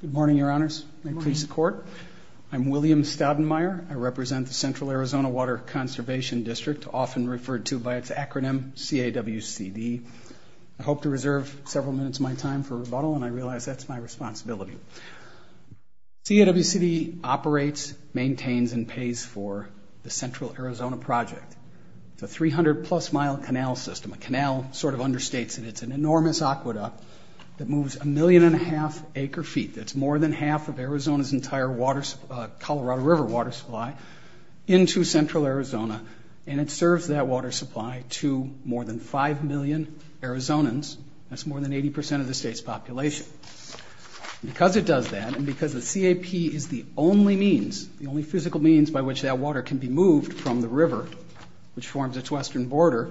Good morning, Your Honors. May peace accord. I'm William Staudenmayer. I represent the Central Arizona Water Conservation District, often referred to by its acronym CAWCD. I hope to reserve several minutes of my time for rebuttal, and I realize that's my responsibility. CAWCD operates, maintains, and pays for the Central Arizona Project. It's a 300-plus-mile canal system, a canal sort of understates, and it's an enormous aqueduct that moves a million and a half acre-feet, that's more than half of Arizona's entire Colorado River water supply, into Central Arizona, and it serves that water supply to more than 5 million Arizonans. That's more than 80 percent of the state's population. Because it does that, and because the CAP is the only means, the only physical means by which that water can be moved from the river, which forms its western border,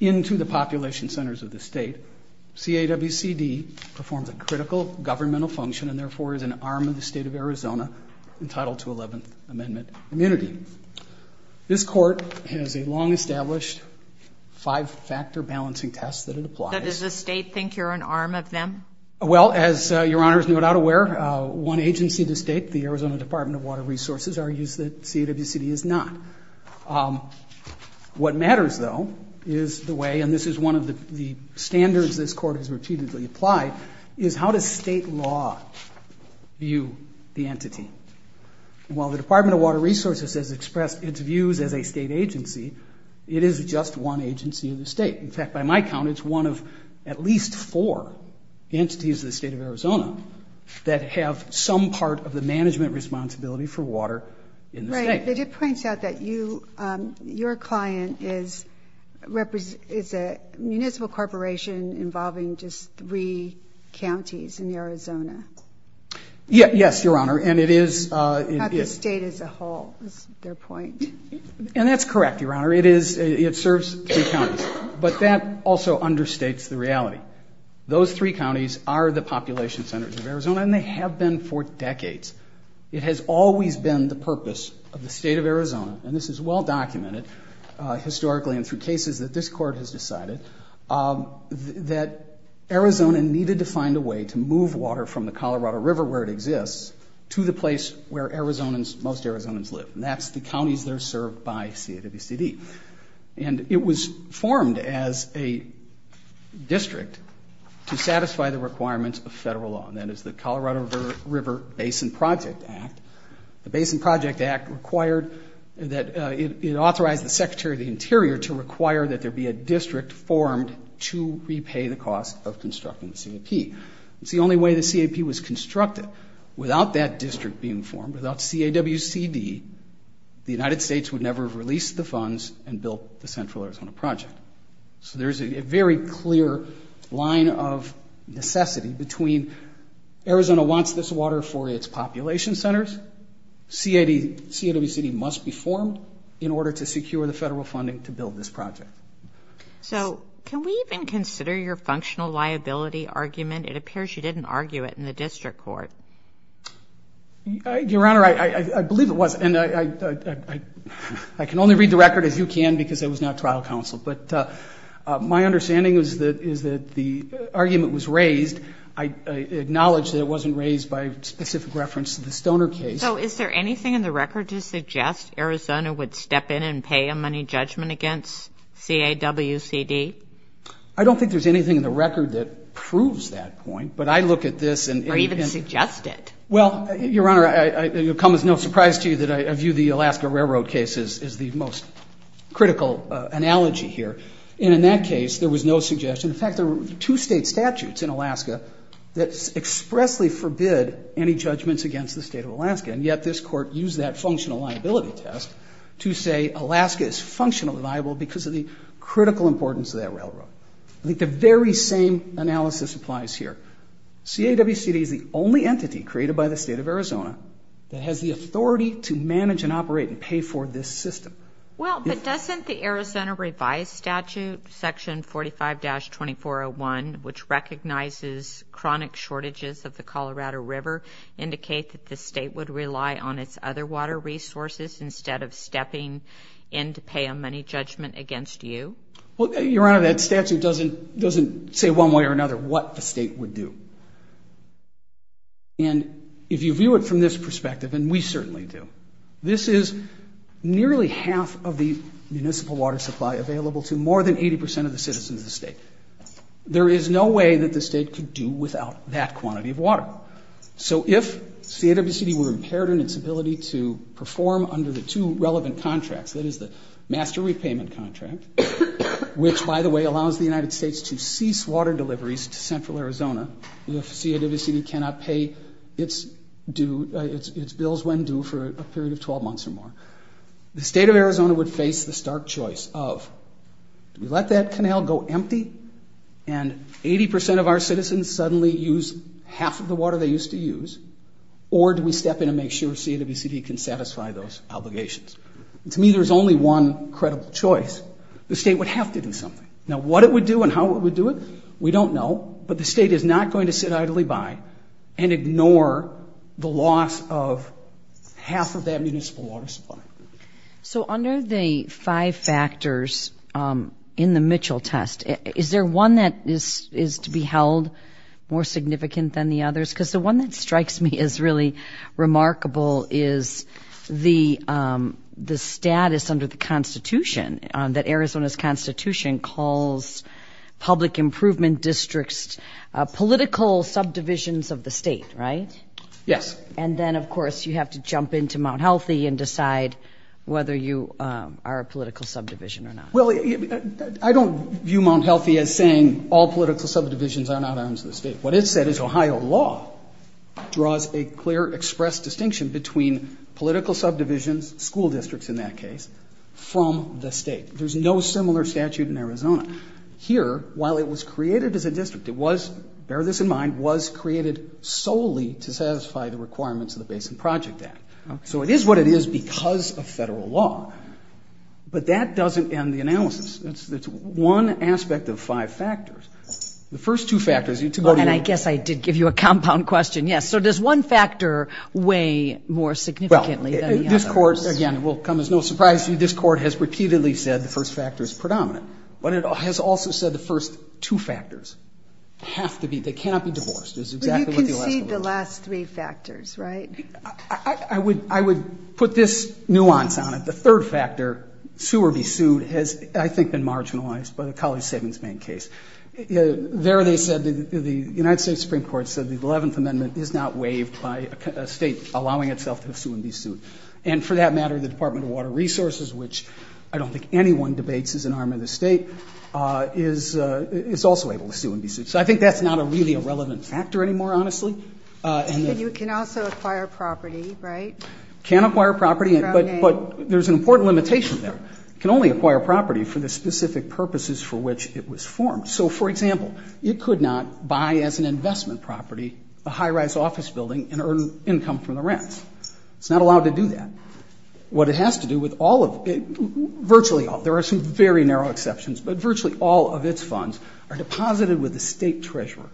into the population centers of the state, CAWCD performs a critical governmental function and therefore is an arm of the state of Arizona, entitled to 11th Amendment immunity. This court has a long-established five-factor balancing test that it applies. But does the state think you're an arm of them? Well, as your Honor is no doubt aware, one agency in the state, the Arizona Department of Water Resources, argues that CAWCD is not. What matters, though, is the way, and this is one of the standards this court has repeatedly applied, is how does state law view the entity? While the Department of Water Resources has expressed its views as a state agency, it is just one agency in the state. In fact, by my count, it's one of at least four entities in the state of Arizona that have some part of the management responsibility for water in the state. Right, but it points out that your client is a municipal corporation involving just three counties in Arizona. Yes, your Honor, and it is... Not the state as a whole, is their point. And that's correct, your Honor, it serves three counties. But that also understates the reality. Those three counties are the population centers of Arizona, and they have been for decades. It has always been the purpose of the state of Arizona, and this is well-documented historically and through cases that this court has decided, that Arizona needed to find a way to move water from the Colorado River where it exists to the place where most Arizonans live, and that's the counties that are served by CAWCD. And it was formed as a district to satisfy the requirements of federal law, and that is the Colorado River Basin Project Act. The Basin Project Act required that... It authorized the Secretary of the Interior to require that there be a district formed to repay the cost of constructing the CAP. It's the only way the CAP was constructed. Without that district being formed, without CAWCD, the United States would never have released the funds and built the Central Arizona Project. So there's a very clear line of necessity between Arizona wants this water for its population centers, CAWCD must be formed in order to secure the federal funding to build this project. So can we even consider your functional liability argument? It appears you didn't argue it in the district court. Your Honor, I believe it was. And I can only read the record as you can because I was not trial counsel, but my understanding is that the argument was raised. I acknowledge that it wasn't raised by specific reference to the Stoner case. So is there anything in the record to suggest Arizona would step in and pay a money judgment against CAWCD? I don't think there's anything in the record that proves that point, but I look at this and... Or even suggest it. Well, Your Honor, it will come as no surprise to you that I view the Alaska Railroad case as the most critical analogy here. And in that case, there was no suggestion. In fact, there were two state statutes in Alaska that expressly forbid any judgments against the state of Alaska, and yet this court used that functional liability test to say Alaska is functionally liable because of the critical importance of that railroad. I think the very same analysis applies here. CAWCD is the only entity created by the state of Arizona that has the authority to manage and operate and pay for this system. Well, but doesn't the Arizona revised statute, Section 45-2401, which recognizes chronic shortages of the Colorado River, indicate that the state would rely on its other water resources instead of stepping in to pay a money judgment against you? Well, Your Honor, that statute doesn't say one way or another what the state would do. And if you view it from this perspective, and we certainly do, this is nearly half of the municipal water supply available to more than 80% of the citizens of the state. There is no way that the state could do without that quantity of water. So if CAWCD were impaired in its ability to perform under the two relevant contracts, that is the master repayment contract, which, by the way, allows the United States to cease water deliveries to central Arizona if CAWCD cannot pay its bills when due for a period of 12 months or more, the state of Arizona would face the stark choice of do we let that canal go empty and 80% of our citizens suddenly use half of the water they used to use, or do we step in and make sure CAWCD can satisfy those obligations? To me, there's only one credible choice. The state would have to do something. Now, what it would do and how it would do it, we don't know, but the state is not going to sit idly by and ignore the loss of half of that municipal water supply. So under the five factors in the Mitchell test, is there one that is to be held more significant than the others? Because the one that strikes me as really remarkable is the status under the Constitution, that Arizona's Constitution calls public improvement districts political subdivisions of the state, right? Yes. And then, of course, you have to jump into Mount Healthy and decide whether you are a political subdivision or not. Well, I don't view Mount Healthy as saying all political subdivisions are not arms of the state. What it said is Ohio law draws a clear expressed distinction between political subdivisions, school districts in that case, from the state. There's no similar statute in Arizona. Here, while it was created as a district, it was, bear this in mind, was created solely to satisfy the requirements of the Basin Project Act. So it is what it is because of federal law. But that doesn't end the analysis. It's one aspect of five factors. The first two factors, you need to go to your... And I guess I did give you a compound question, yes. So does one factor weigh more significantly than the others? Well, this Court, again, it will come as no surprise to you, this Court has repeatedly said the first factor is predominant. But it has also said the first two factors have to be, they cannot be divorced. But you concede the last three factors, right? I would put this nuance on it. The third factor, sue or be sued, has, I think, been marginalized by the College Savings Bank case. There they said, the United States Supreme Court said the 11th Amendment is not waived by a state allowing itself to sue and be sued. And for that matter, the Department of Water Resources, which I don't think anyone debates is an arm of the state, is also able to sue and be sued. So I think that's not really a relevant factor anymore, honestly. And you can also acquire property, right? You can acquire property, but there's an important limitation there. You can only acquire property for the specific purposes for which it was formed. So, for example, you could not buy as an investment property a high-rise office building and earn income from the rents. It's not allowed to do that. What it has to do with all of, virtually all, there are some very narrow exceptions, but virtually all of its funds are deposited with the state treasurer.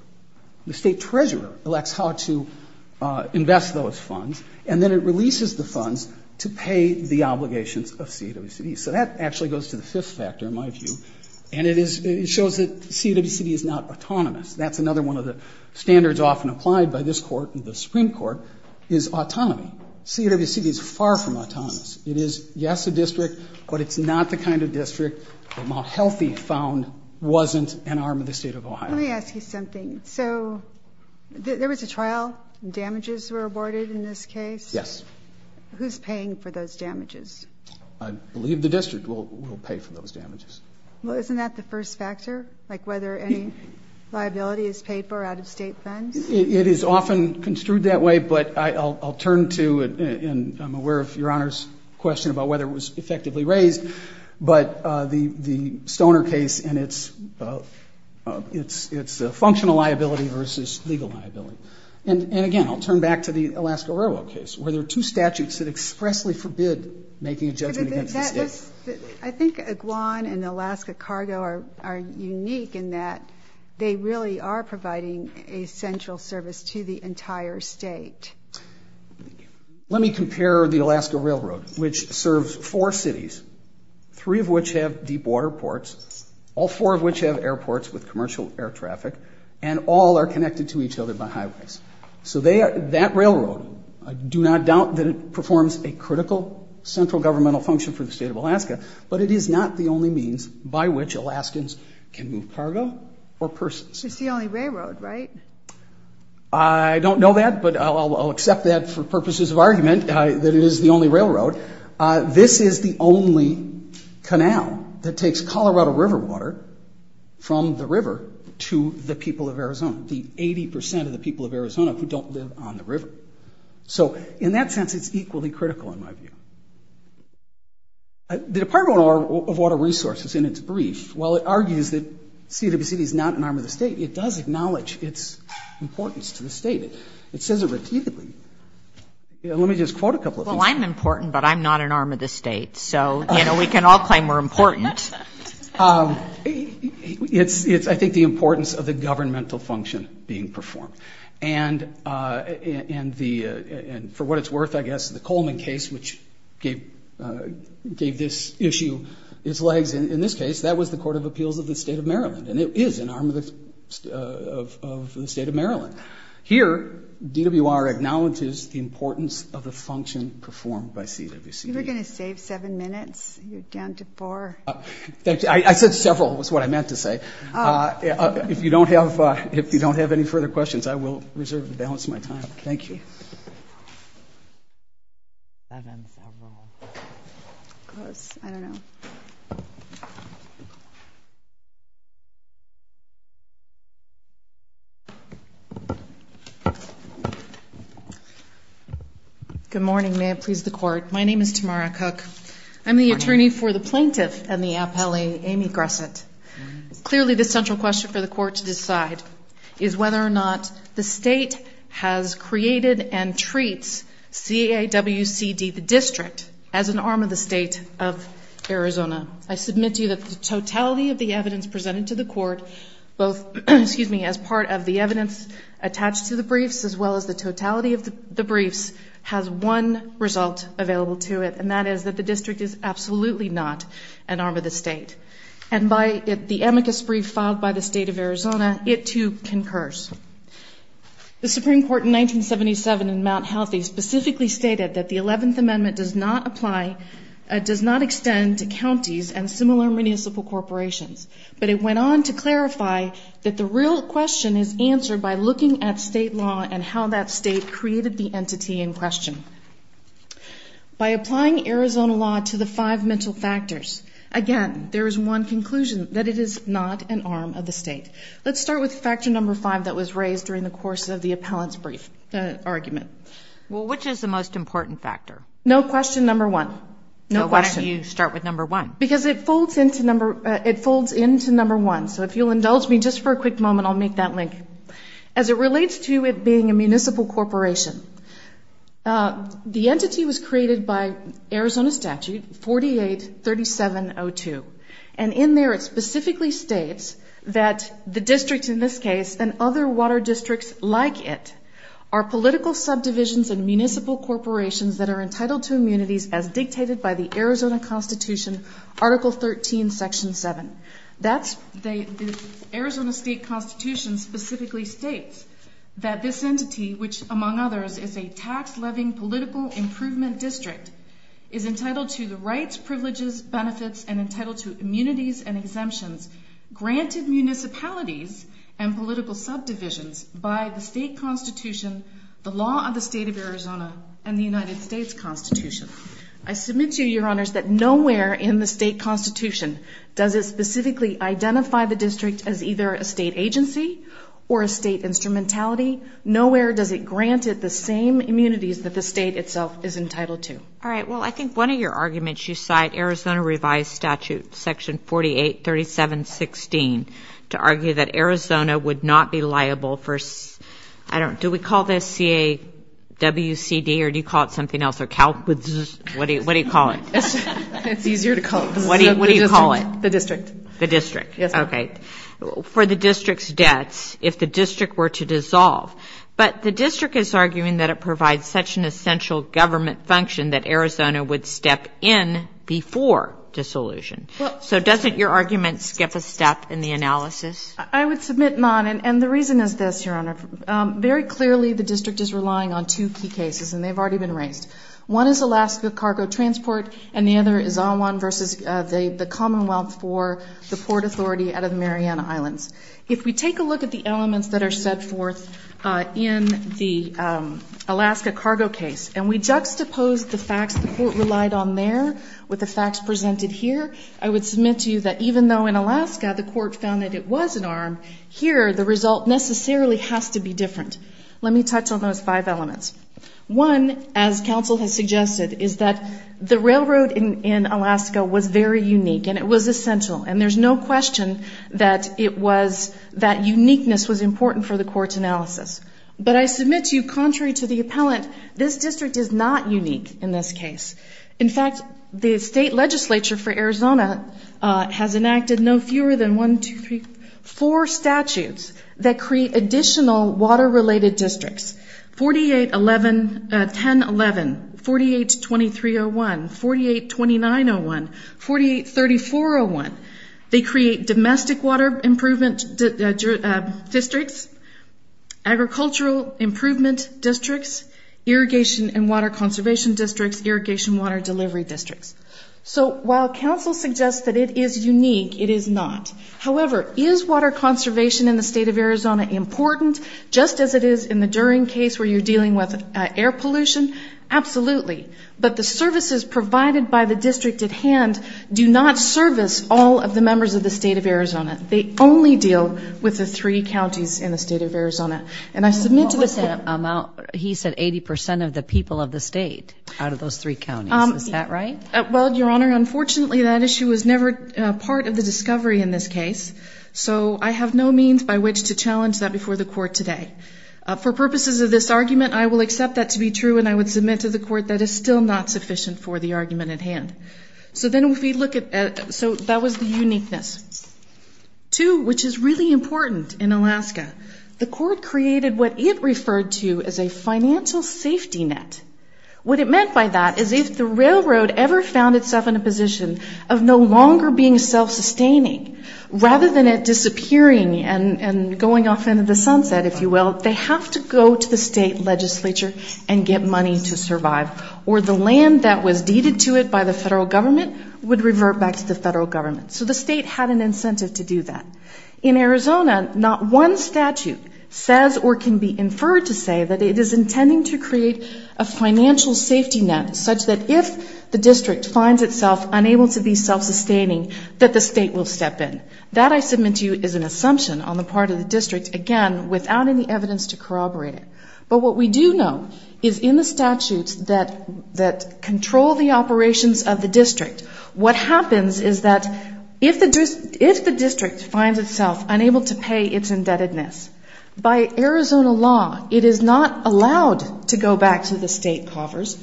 The state treasurer elects how to invest those funds, and then it releases the funds to pay the obligations of CAWCB. So that actually goes to the fifth factor, in my view, and it shows that CAWCB is not autonomous. That's another one of the standards often applied by this Court and the Supreme Court is autonomy. CAWCB is far from autonomous. It is, yes, a district, but it's not the kind of district that Mount Healthy found wasn't an arm of the state of Ohio. Let me ask you something. So there was a trial. Damages were awarded in this case. Yes. Who's paying for those damages? I believe the district will pay for those damages. Well, isn't that the first factor, like whether any liability is paid for out of state funds? It is often construed that way, but I'll turn to it, and I'm aware of Your Honor's question about whether it was effectively raised, but the Stoner case and its functional liability versus legal liability. And, again, I'll turn back to the Alaska Railroad case where there are two statutes that expressly forbid making a judgment against the state. I think that Iguan and Alaska Cargo are unique in that they really are providing a central service to the entire state. Let me compare the Alaska Railroad, which serves four cities, three of which have deep water ports, all four of which have airports with commercial air traffic, and all are connected to each other by highways. So that railroad, I do not doubt that it performs a critical central governmental function for the state of Alaska, but it is not the only means by which Alaskans can move cargo or persons. It's the only railroad, right? I don't know that, but I'll accept that for purposes of argument that it is the only railroad. This is the only canal that takes Colorado River water from the river to the people of Arizona, the 80 percent of the people of Arizona who don't live on the river. So in that sense, it's equally critical in my view. The Department of Water Resources, in its brief, while it argues that CWCD is not an arm of the state, it does acknowledge its importance to the state. It says it repeatedly. Let me just quote a couple of things. Well, I'm important, but I'm not an arm of the state. So, you know, we can all claim we're important. It's, I think, the importance of the governmental function being performed. And for what it's worth, I guess, the Coleman case, which gave this issue its legs, in this case, that was the Court of Appeals of the state of Maryland, and it is an arm of the state of Maryland. Here, DWR acknowledges the importance of the function performed by CWCD. You were going to save seven minutes? You're down to four. I said several is what I meant to say. If you don't have any further questions, I will reserve and balance my time. Thank you. Seven, several. Close. I don't know. Good morning. May it please the Court. My name is Tamara Cook. I'm the attorney for the plaintiff and the appellee, Amy Gresset. Clearly, the central question for the court to decide is whether or not the state has created and treats CAWCD, the district, as an arm of the state of Arizona. I submit to you that the totality of the evidence presented to the court, both as part of the evidence attached to the briefs as well as the totality of the briefs, has one result available to it, and that is that the district is absolutely not an arm of the state. And by the amicus brief filed by the state of Arizona, it too concurs. The Supreme Court in 1977 in Mount Healthy specifically stated that the 11th Amendment does not apply, does not extend to counties and similar municipal corporations. But it went on to clarify that the real question is answered by looking at state law and how that state created the entity in question. By applying Arizona law to the five mental factors, again, there is one conclusion, that it is not an arm of the state. Let's start with factor number five that was raised during the course of the appellant's brief argument. Well, which is the most important factor? No question number one. No question. Why don't you start with number one? Because it folds into number one. So if you'll indulge me just for a quick moment, I'll make that link. As it relates to it being a municipal corporation, the entity was created by Arizona statute 48-3702. And in there it specifically states that the district in this case and other water districts like it are political subdivisions and municipal corporations that are entitled to immunities as dictated by the Arizona Constitution, Article 13, Section 7. The Arizona State Constitution specifically states that this entity, which among others is a tax-loving political improvement district, is entitled to the rights, privileges, benefits, and entitled to immunities and exemptions granted municipalities and political subdivisions by the state constitution, the law of the state of Arizona, and the United States Constitution. I submit to you, Your Honors, that nowhere in the state constitution does it specifically identify the district as either a state agency or a state instrumentality. Nowhere does it grant it the same immunities that the state itself is entitled to. All right. Well, I think one of your arguments, you cite Arizona revised statute, Section 48-3716, to argue that Arizona would not be liable for, I don't know, do we call this C-A-W-C-D or do you call it something else? What do you call it? It's easier to call it. What do you call it? The district. The district. Yes. Okay. For the district's debts if the district were to dissolve. But the district is arguing that it provides such an essential government function that Arizona would step in before dissolution. So doesn't your argument skip a step in the analysis? I would submit not. And the reason is this, Your Honor. Very clearly the district is relying on two key cases, and they've already been raised. One is Alaska cargo transport, and the other is on one versus the Commonwealth for the port authority out of the Mariana Islands. If we take a look at the elements that are set forth in the Alaska cargo case and we juxtapose the facts the court relied on there with the facts presented here, I would submit to you that even though in Alaska the court found that it was an arm, here the result necessarily has to be different. Let me touch on those five elements. One, as counsel has suggested, is that the railroad in Alaska was very unique, and it was essential. And there's no question that it was that uniqueness was important for the court's analysis. But I submit to you, contrary to the appellant, this district is not unique in this case. In fact, the state legislature for Arizona has enacted no fewer than one, two, three, four statutes that create additional water-related districts. 48-1011, 48-2301, 48-2901, 48-3401. They create domestic water improvement districts, agricultural improvement districts, irrigation and water conservation districts, irrigation water delivery districts. So while counsel suggests that it is unique, it is not. However, is water conservation in the state of Arizona important, just as it is in the Duren case where you're dealing with air pollution? Absolutely. But the services provided by the district at hand do not service all of the members of the state of Arizona. They only deal with the three counties in the state of Arizona. And I submit to the Senate. He said 80 percent of the people of the state out of those three counties. Is that right? Well, Your Honor, unfortunately that issue was never part of the discovery in this case. So I have no means by which to challenge that before the court today. For purposes of this argument, I will accept that to be true, and I would submit to the court that it's still not sufficient for the argument at hand. So that was the uniqueness. Two, which is really important in Alaska, the court created what it referred to as a financial safety net. What it meant by that is if the railroad ever found itself in a position of no longer being self-sustaining, rather than it disappearing and going off into the sunset, if you will, they have to go to the state legislature and get money to survive. Or the land that was deeded to it by the federal government would revert back to the federal government. So the state had an incentive to do that. In Arizona, not one statute says or can be inferred to say that it is intending to create a financial safety net such that if the district finds itself unable to be self-sustaining, that the state will step in. That I submit to you is an assumption on the part of the district, again, without any evidence to corroborate it. But what we do know is in the statutes that control the operations of the district, what happens is that if the district finds itself unable to pay its indebtedness, by Arizona law it is not allowed to go back to the state coffers.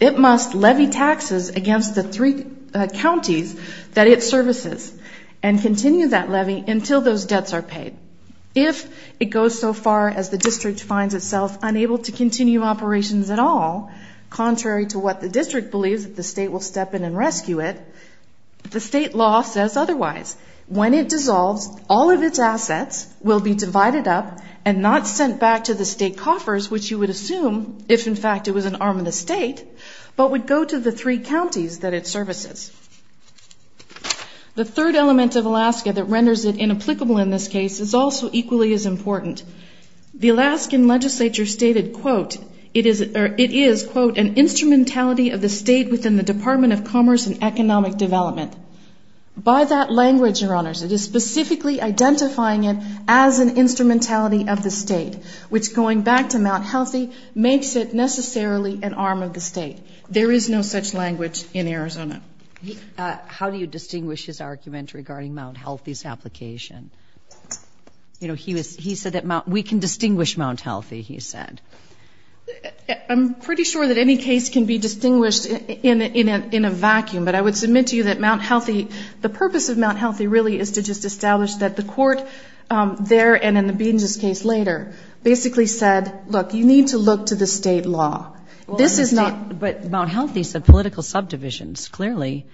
It must levy taxes against the three counties that it services and continue that levy until those debts are paid. If it goes so far as the district finds itself unable to continue operations at all, contrary to what the district believes that the state will step in and rescue it, the state law says otherwise. When it dissolves, all of its assets will be divided up and not sent back to the state coffers, which you would assume, if in fact it was an arm of the state, but would go to the three counties that it services. The third element of Alaska that renders it inapplicable in this case is also equally as important. The Alaskan legislature stated, quote, it is, quote, an instrumentality of the state within the Department of Commerce and Economic Development. By that language, Your Honors, it is specifically identifying it as an instrumentality of the state, which going back to Mount Healthy makes it necessarily an arm of the state. There is no such language in Arizona. How do you distinguish his argument regarding Mount Healthy's application? You know, he said that we can distinguish Mount Healthy, he said. I'm pretty sure that any case can be distinguished in a vacuum, but I would submit to you that Mount Healthy, the purpose of Mount Healthy really is to just establish that the court there and in the Beans' case later basically said, look, you need to look to the state law. This is not. But Mount Healthy's political subdivisions clearly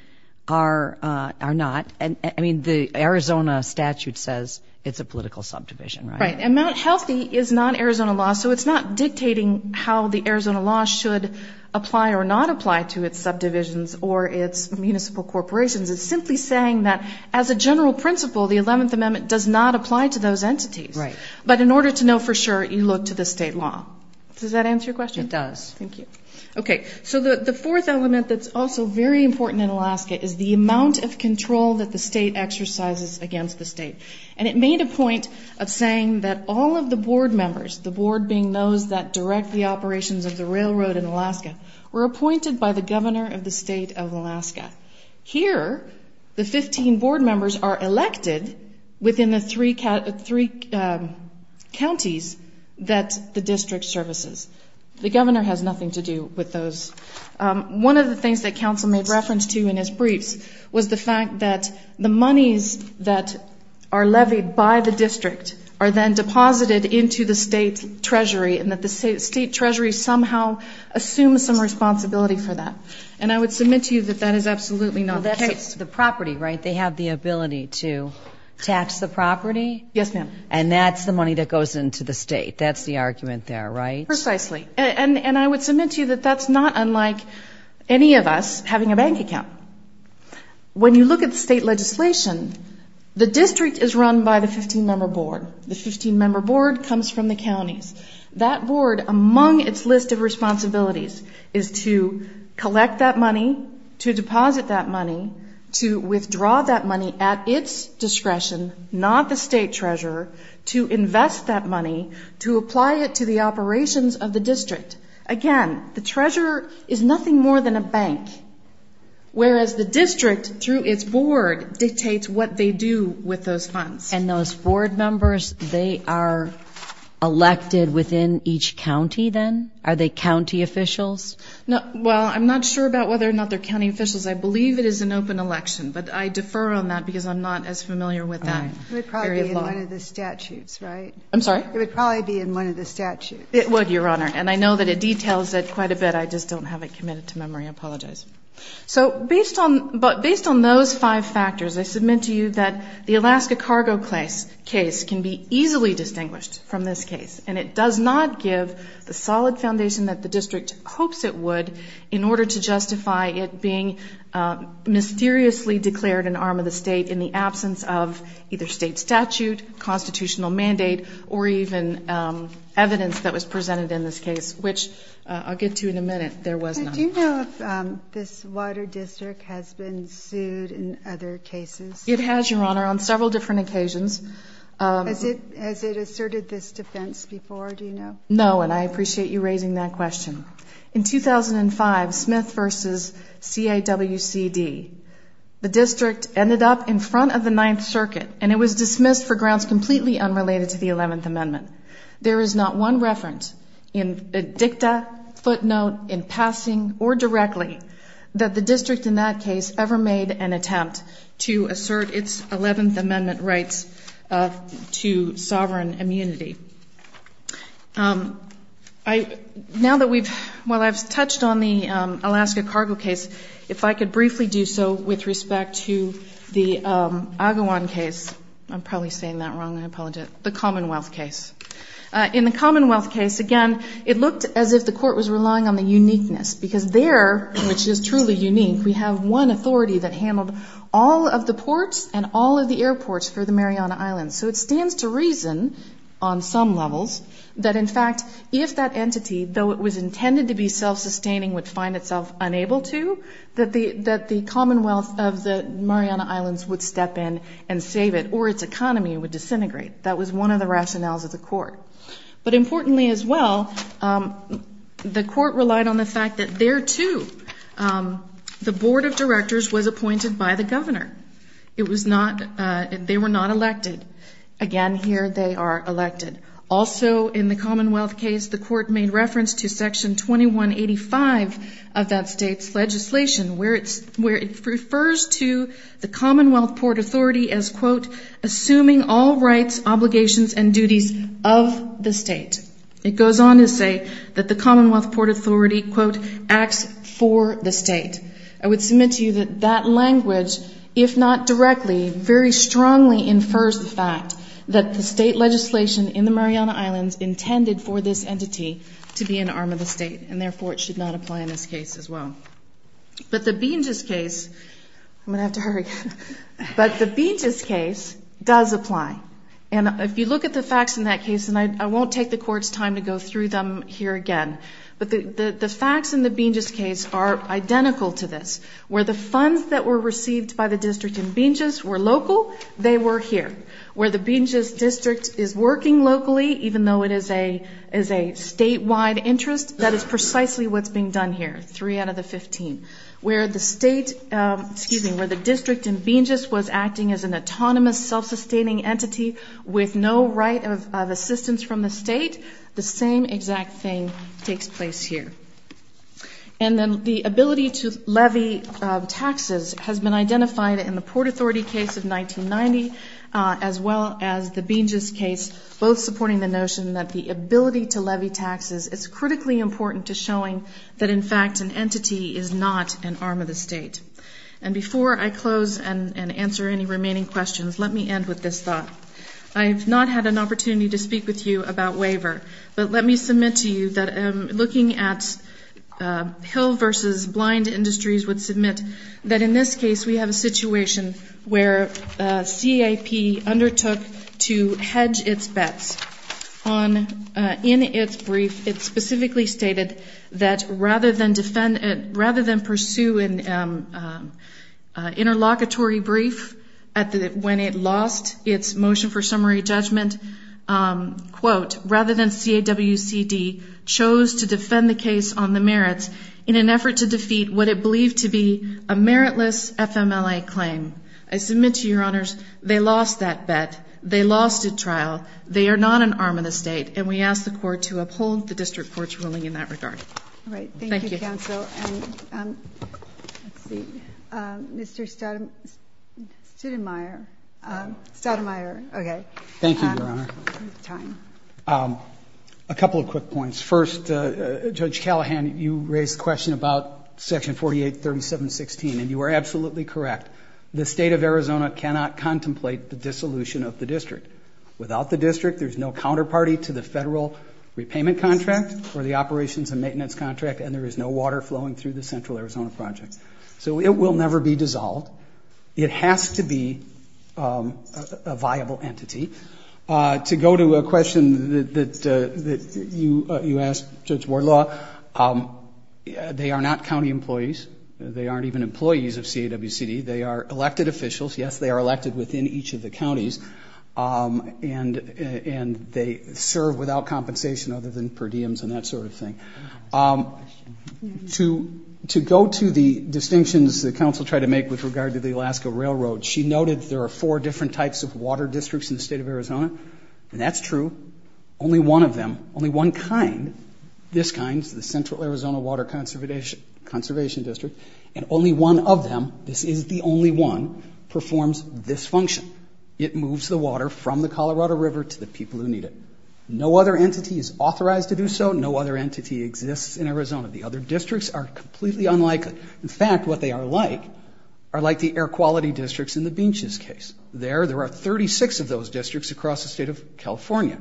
are not. I mean, the Arizona statute says it's a political subdivision, right? Right, and Mount Healthy is not Arizona law, so it's not dictating how the Arizona law should apply or not apply to its subdivisions or its municipal corporations. It's simply saying that as a general principle, the 11th Amendment does not apply to those entities. Right. But in order to know for sure, you look to the state law. Does that answer your question? It does. Thank you. Okay, so the fourth element that's also very important in Alaska is the amount of control that the state exercises against the state. And it made a point of saying that all of the board members, the board being those that direct the operations of the railroad in Alaska, were appointed by the governor of the state of Alaska. Here, the 15 board members are elected within the three counties that the district services. The governor has nothing to do with those. One of the things that counsel made reference to in his briefs was the fact that the monies that are levied by the district are then deposited into the state treasury and that the state treasury somehow assumes some responsibility for that. And I would submit to you that that is absolutely not the case. The property, right? They have the ability to tax the property. Yes, ma'am. And that's the money that goes into the state. That's the argument there, right? Precisely. And I would submit to you that that's not unlike any of us having a bank account. When you look at the state legislation, the district is run by the 15-member board. The 15-member board comes from the counties. That board, among its list of responsibilities, is to collect that money, to deposit that money, to withdraw that money at its discretion, not the state treasurer, to invest that money, to apply it to the operations of the district. Again, the treasurer is nothing more than a bank, whereas the district, through its board, dictates what they do with those funds. And those board members, they are elected within each county then? Are they county officials? Well, I'm not sure about whether or not they're county officials. I believe it is an open election, but I defer on that because I'm not as familiar with that area of law. It would probably be in one of the statutes, right? I'm sorry? It would probably be in one of the statutes. It would, Your Honor. And I know that it details it quite a bit. I just don't have it committed to memory. I apologize. So based on those five factors, I submit to you that the Alaska cargo case can be easily distinguished from this case, and it does not give the solid foundation that the district hopes it would in order to justify it being mysteriously declared an arm of the state in the absence of either state statute, constitutional mandate, or even evidence that was presented in this case, which I'll get to in a minute. There was none. Do you know if this wider district has been sued in other cases? It has, Your Honor, on several different occasions. Has it asserted this defense before, do you know? No, and I appreciate you raising that question. In 2005, Smith v. CAWCD, the district ended up in front of the Ninth Circuit, and it was dismissed for grounds completely unrelated to the Eleventh Amendment. There is not one reference in a dicta, footnote, in passing, or directly that the district in that case ever made an attempt to assert its Eleventh Amendment rights to sovereign immunity. Now that we've ‑‑ well, I've touched on the Alaska cargo case. If I could briefly do so with respect to the Agawam case. I'm probably saying that wrong. I apologize. The Commonwealth case. In the Commonwealth case, again, it looked as if the court was relying on the uniqueness, because there, which is truly unique, we have one authority that handled all of the ports and all of the airports for the Mariana Islands. So it stands to reason on some levels that, in fact, if that entity, though it was intended to be self‑sustaining, would find itself unable to, that the Commonwealth of the Mariana Islands would step in and save it, or its economy would disintegrate. That was one of the rationales of the court. But importantly as well, the court relied on the fact that there, too, the Board of Directors was appointed by the governor. It was not ‑‑ they were not elected. Again, here they are elected. Also in the Commonwealth case, the court made reference to Section 2185 of that state's legislation, where it refers to the Commonwealth Port Authority as, quote, assuming all rights, obligations, and duties of the state. It goes on to say that the Commonwealth Port Authority, quote, acts for the state. I would submit to you that that language, if not directly, very strongly infers the fact that the state legislation in the Mariana Islands intended for this entity to be an arm of the state, and therefore it should not apply in this case as well. But the Binges case, I'm going to have to hurry, but the Binges case does apply. And if you look at the facts in that case, and I won't take the court's time to go through them here again, but the facts in the Binges case are identical to this, where the funds that were received by the district in Binges were local, they were here. Where the Binges district is working locally, even though it is a statewide interest, that is precisely what's being done here, three out of the 15. Where the state, excuse me, where the district in Binges was acting as an autonomous, self‑sustaining entity with no right of assistance from the state, the same exact thing takes place here. And then the ability to levy taxes has been identified in the Port Authority case of 1990, as well as the Binges case, both supporting the notion that the ability to levy taxes is critically important to showing that, in fact, an entity is not an arm of the state. And before I close and answer any remaining questions, let me end with this thought. I have not had an opportunity to speak with you about waiver, but let me submit to you that looking at pill versus blind industries would submit that, in this case, we have a situation where CAP undertook to hedge its bets. In its brief, it specifically stated that rather than pursue an interlocutory brief when it lost its motion for summary judgment, quote, rather than CAWCD chose to defend the case on the merits in an effort to defeat what it believed to be a meritless FMLA claim. I submit to you, Your Honors, they lost that bet. They lost a trial. They are not an arm of the state. And we ask the Court to uphold the district court's ruling in that regard. All right. Thank you, counsel. Thank you. Let's see. Mr. Stoudemire. Stoudemire. Okay. Thank you, Your Honor. We have time. A couple of quick points. First, Judge Callahan, you raised the question about Section 483716, and you are absolutely correct. The state of Arizona cannot contemplate the dissolution of the district. Without the district, there's no counterparty to the federal repayment contract or the operations and maintenance contract, and there is no water flowing through the Central Arizona Project. So it will never be dissolved. It has to be a viable entity. To go to a question that you asked, Judge Wardlaw, they are not county employees. They aren't even employees of CAWCD. They are elected officials. Yes, they are elected within each of the counties. And they serve without compensation other than per diems and that sort of thing. To go to the distinctions that counsel tried to make with regard to the Alaska Railroad, she noted there are four different types of water districts in the state of Arizona, and that's true. Only one of them, only one kind, this kind, the Central Arizona Water Conservation District, and only one of them, this is the only one, performs this function. It moves the water from the Colorado River to the people who need it. No other entity is authorized to do so. No other entity exists in Arizona. The other districts are completely unlike. In fact, what they are like are like the air quality districts in the Beaches case. There, there are 36 of those districts across the state of California.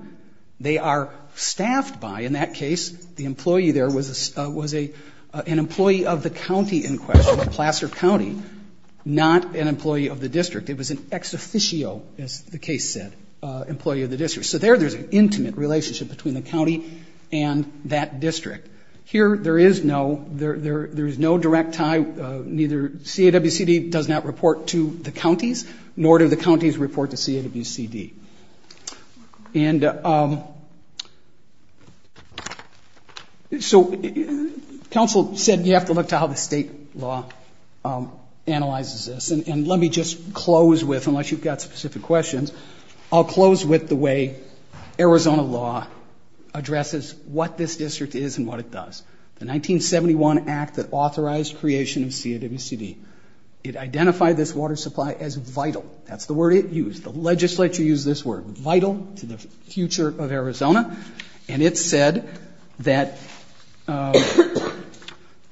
They are staffed by, in that case, the employee there was an employee of the county in question, Placer County, not an employee of the district. It was an ex officio, as the case said, employee of the district. So there there's an intimate relationship between the county and that district. Here there is no, there is no direct tie, neither CAWCD does not report to the counties, nor do the counties report to CAWCD. And so counsel said you have to look to how the state law analyzes this. And let me just close with, unless you've got specific questions, I'll close with the way Arizona law addresses what this district is and what it does. The 1971 act that authorized creation of CAWCD, it identified this water supply as vital. That's the word it used. The legislature used this word, vital to the future of Arizona. And it said that, I'm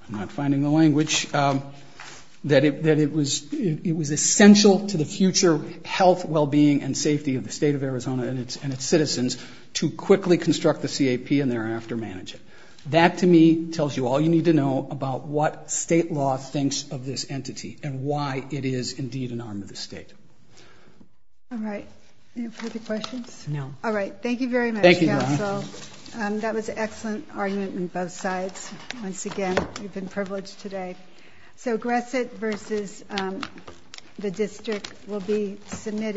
not finding the language, that it was essential to the future health, well-being, and safety of the state of Arizona and its citizens to quickly construct the CAP and thereafter manage it. That, to me, tells you all you need to know about what state law thinks of this entity and why it is indeed an arm of the state. All right. Any further questions? No. All right. Thank you very much, counsel. That was an excellent argument on both sides. Once again, you've been privileged today. So Gresset versus the district will be submitted.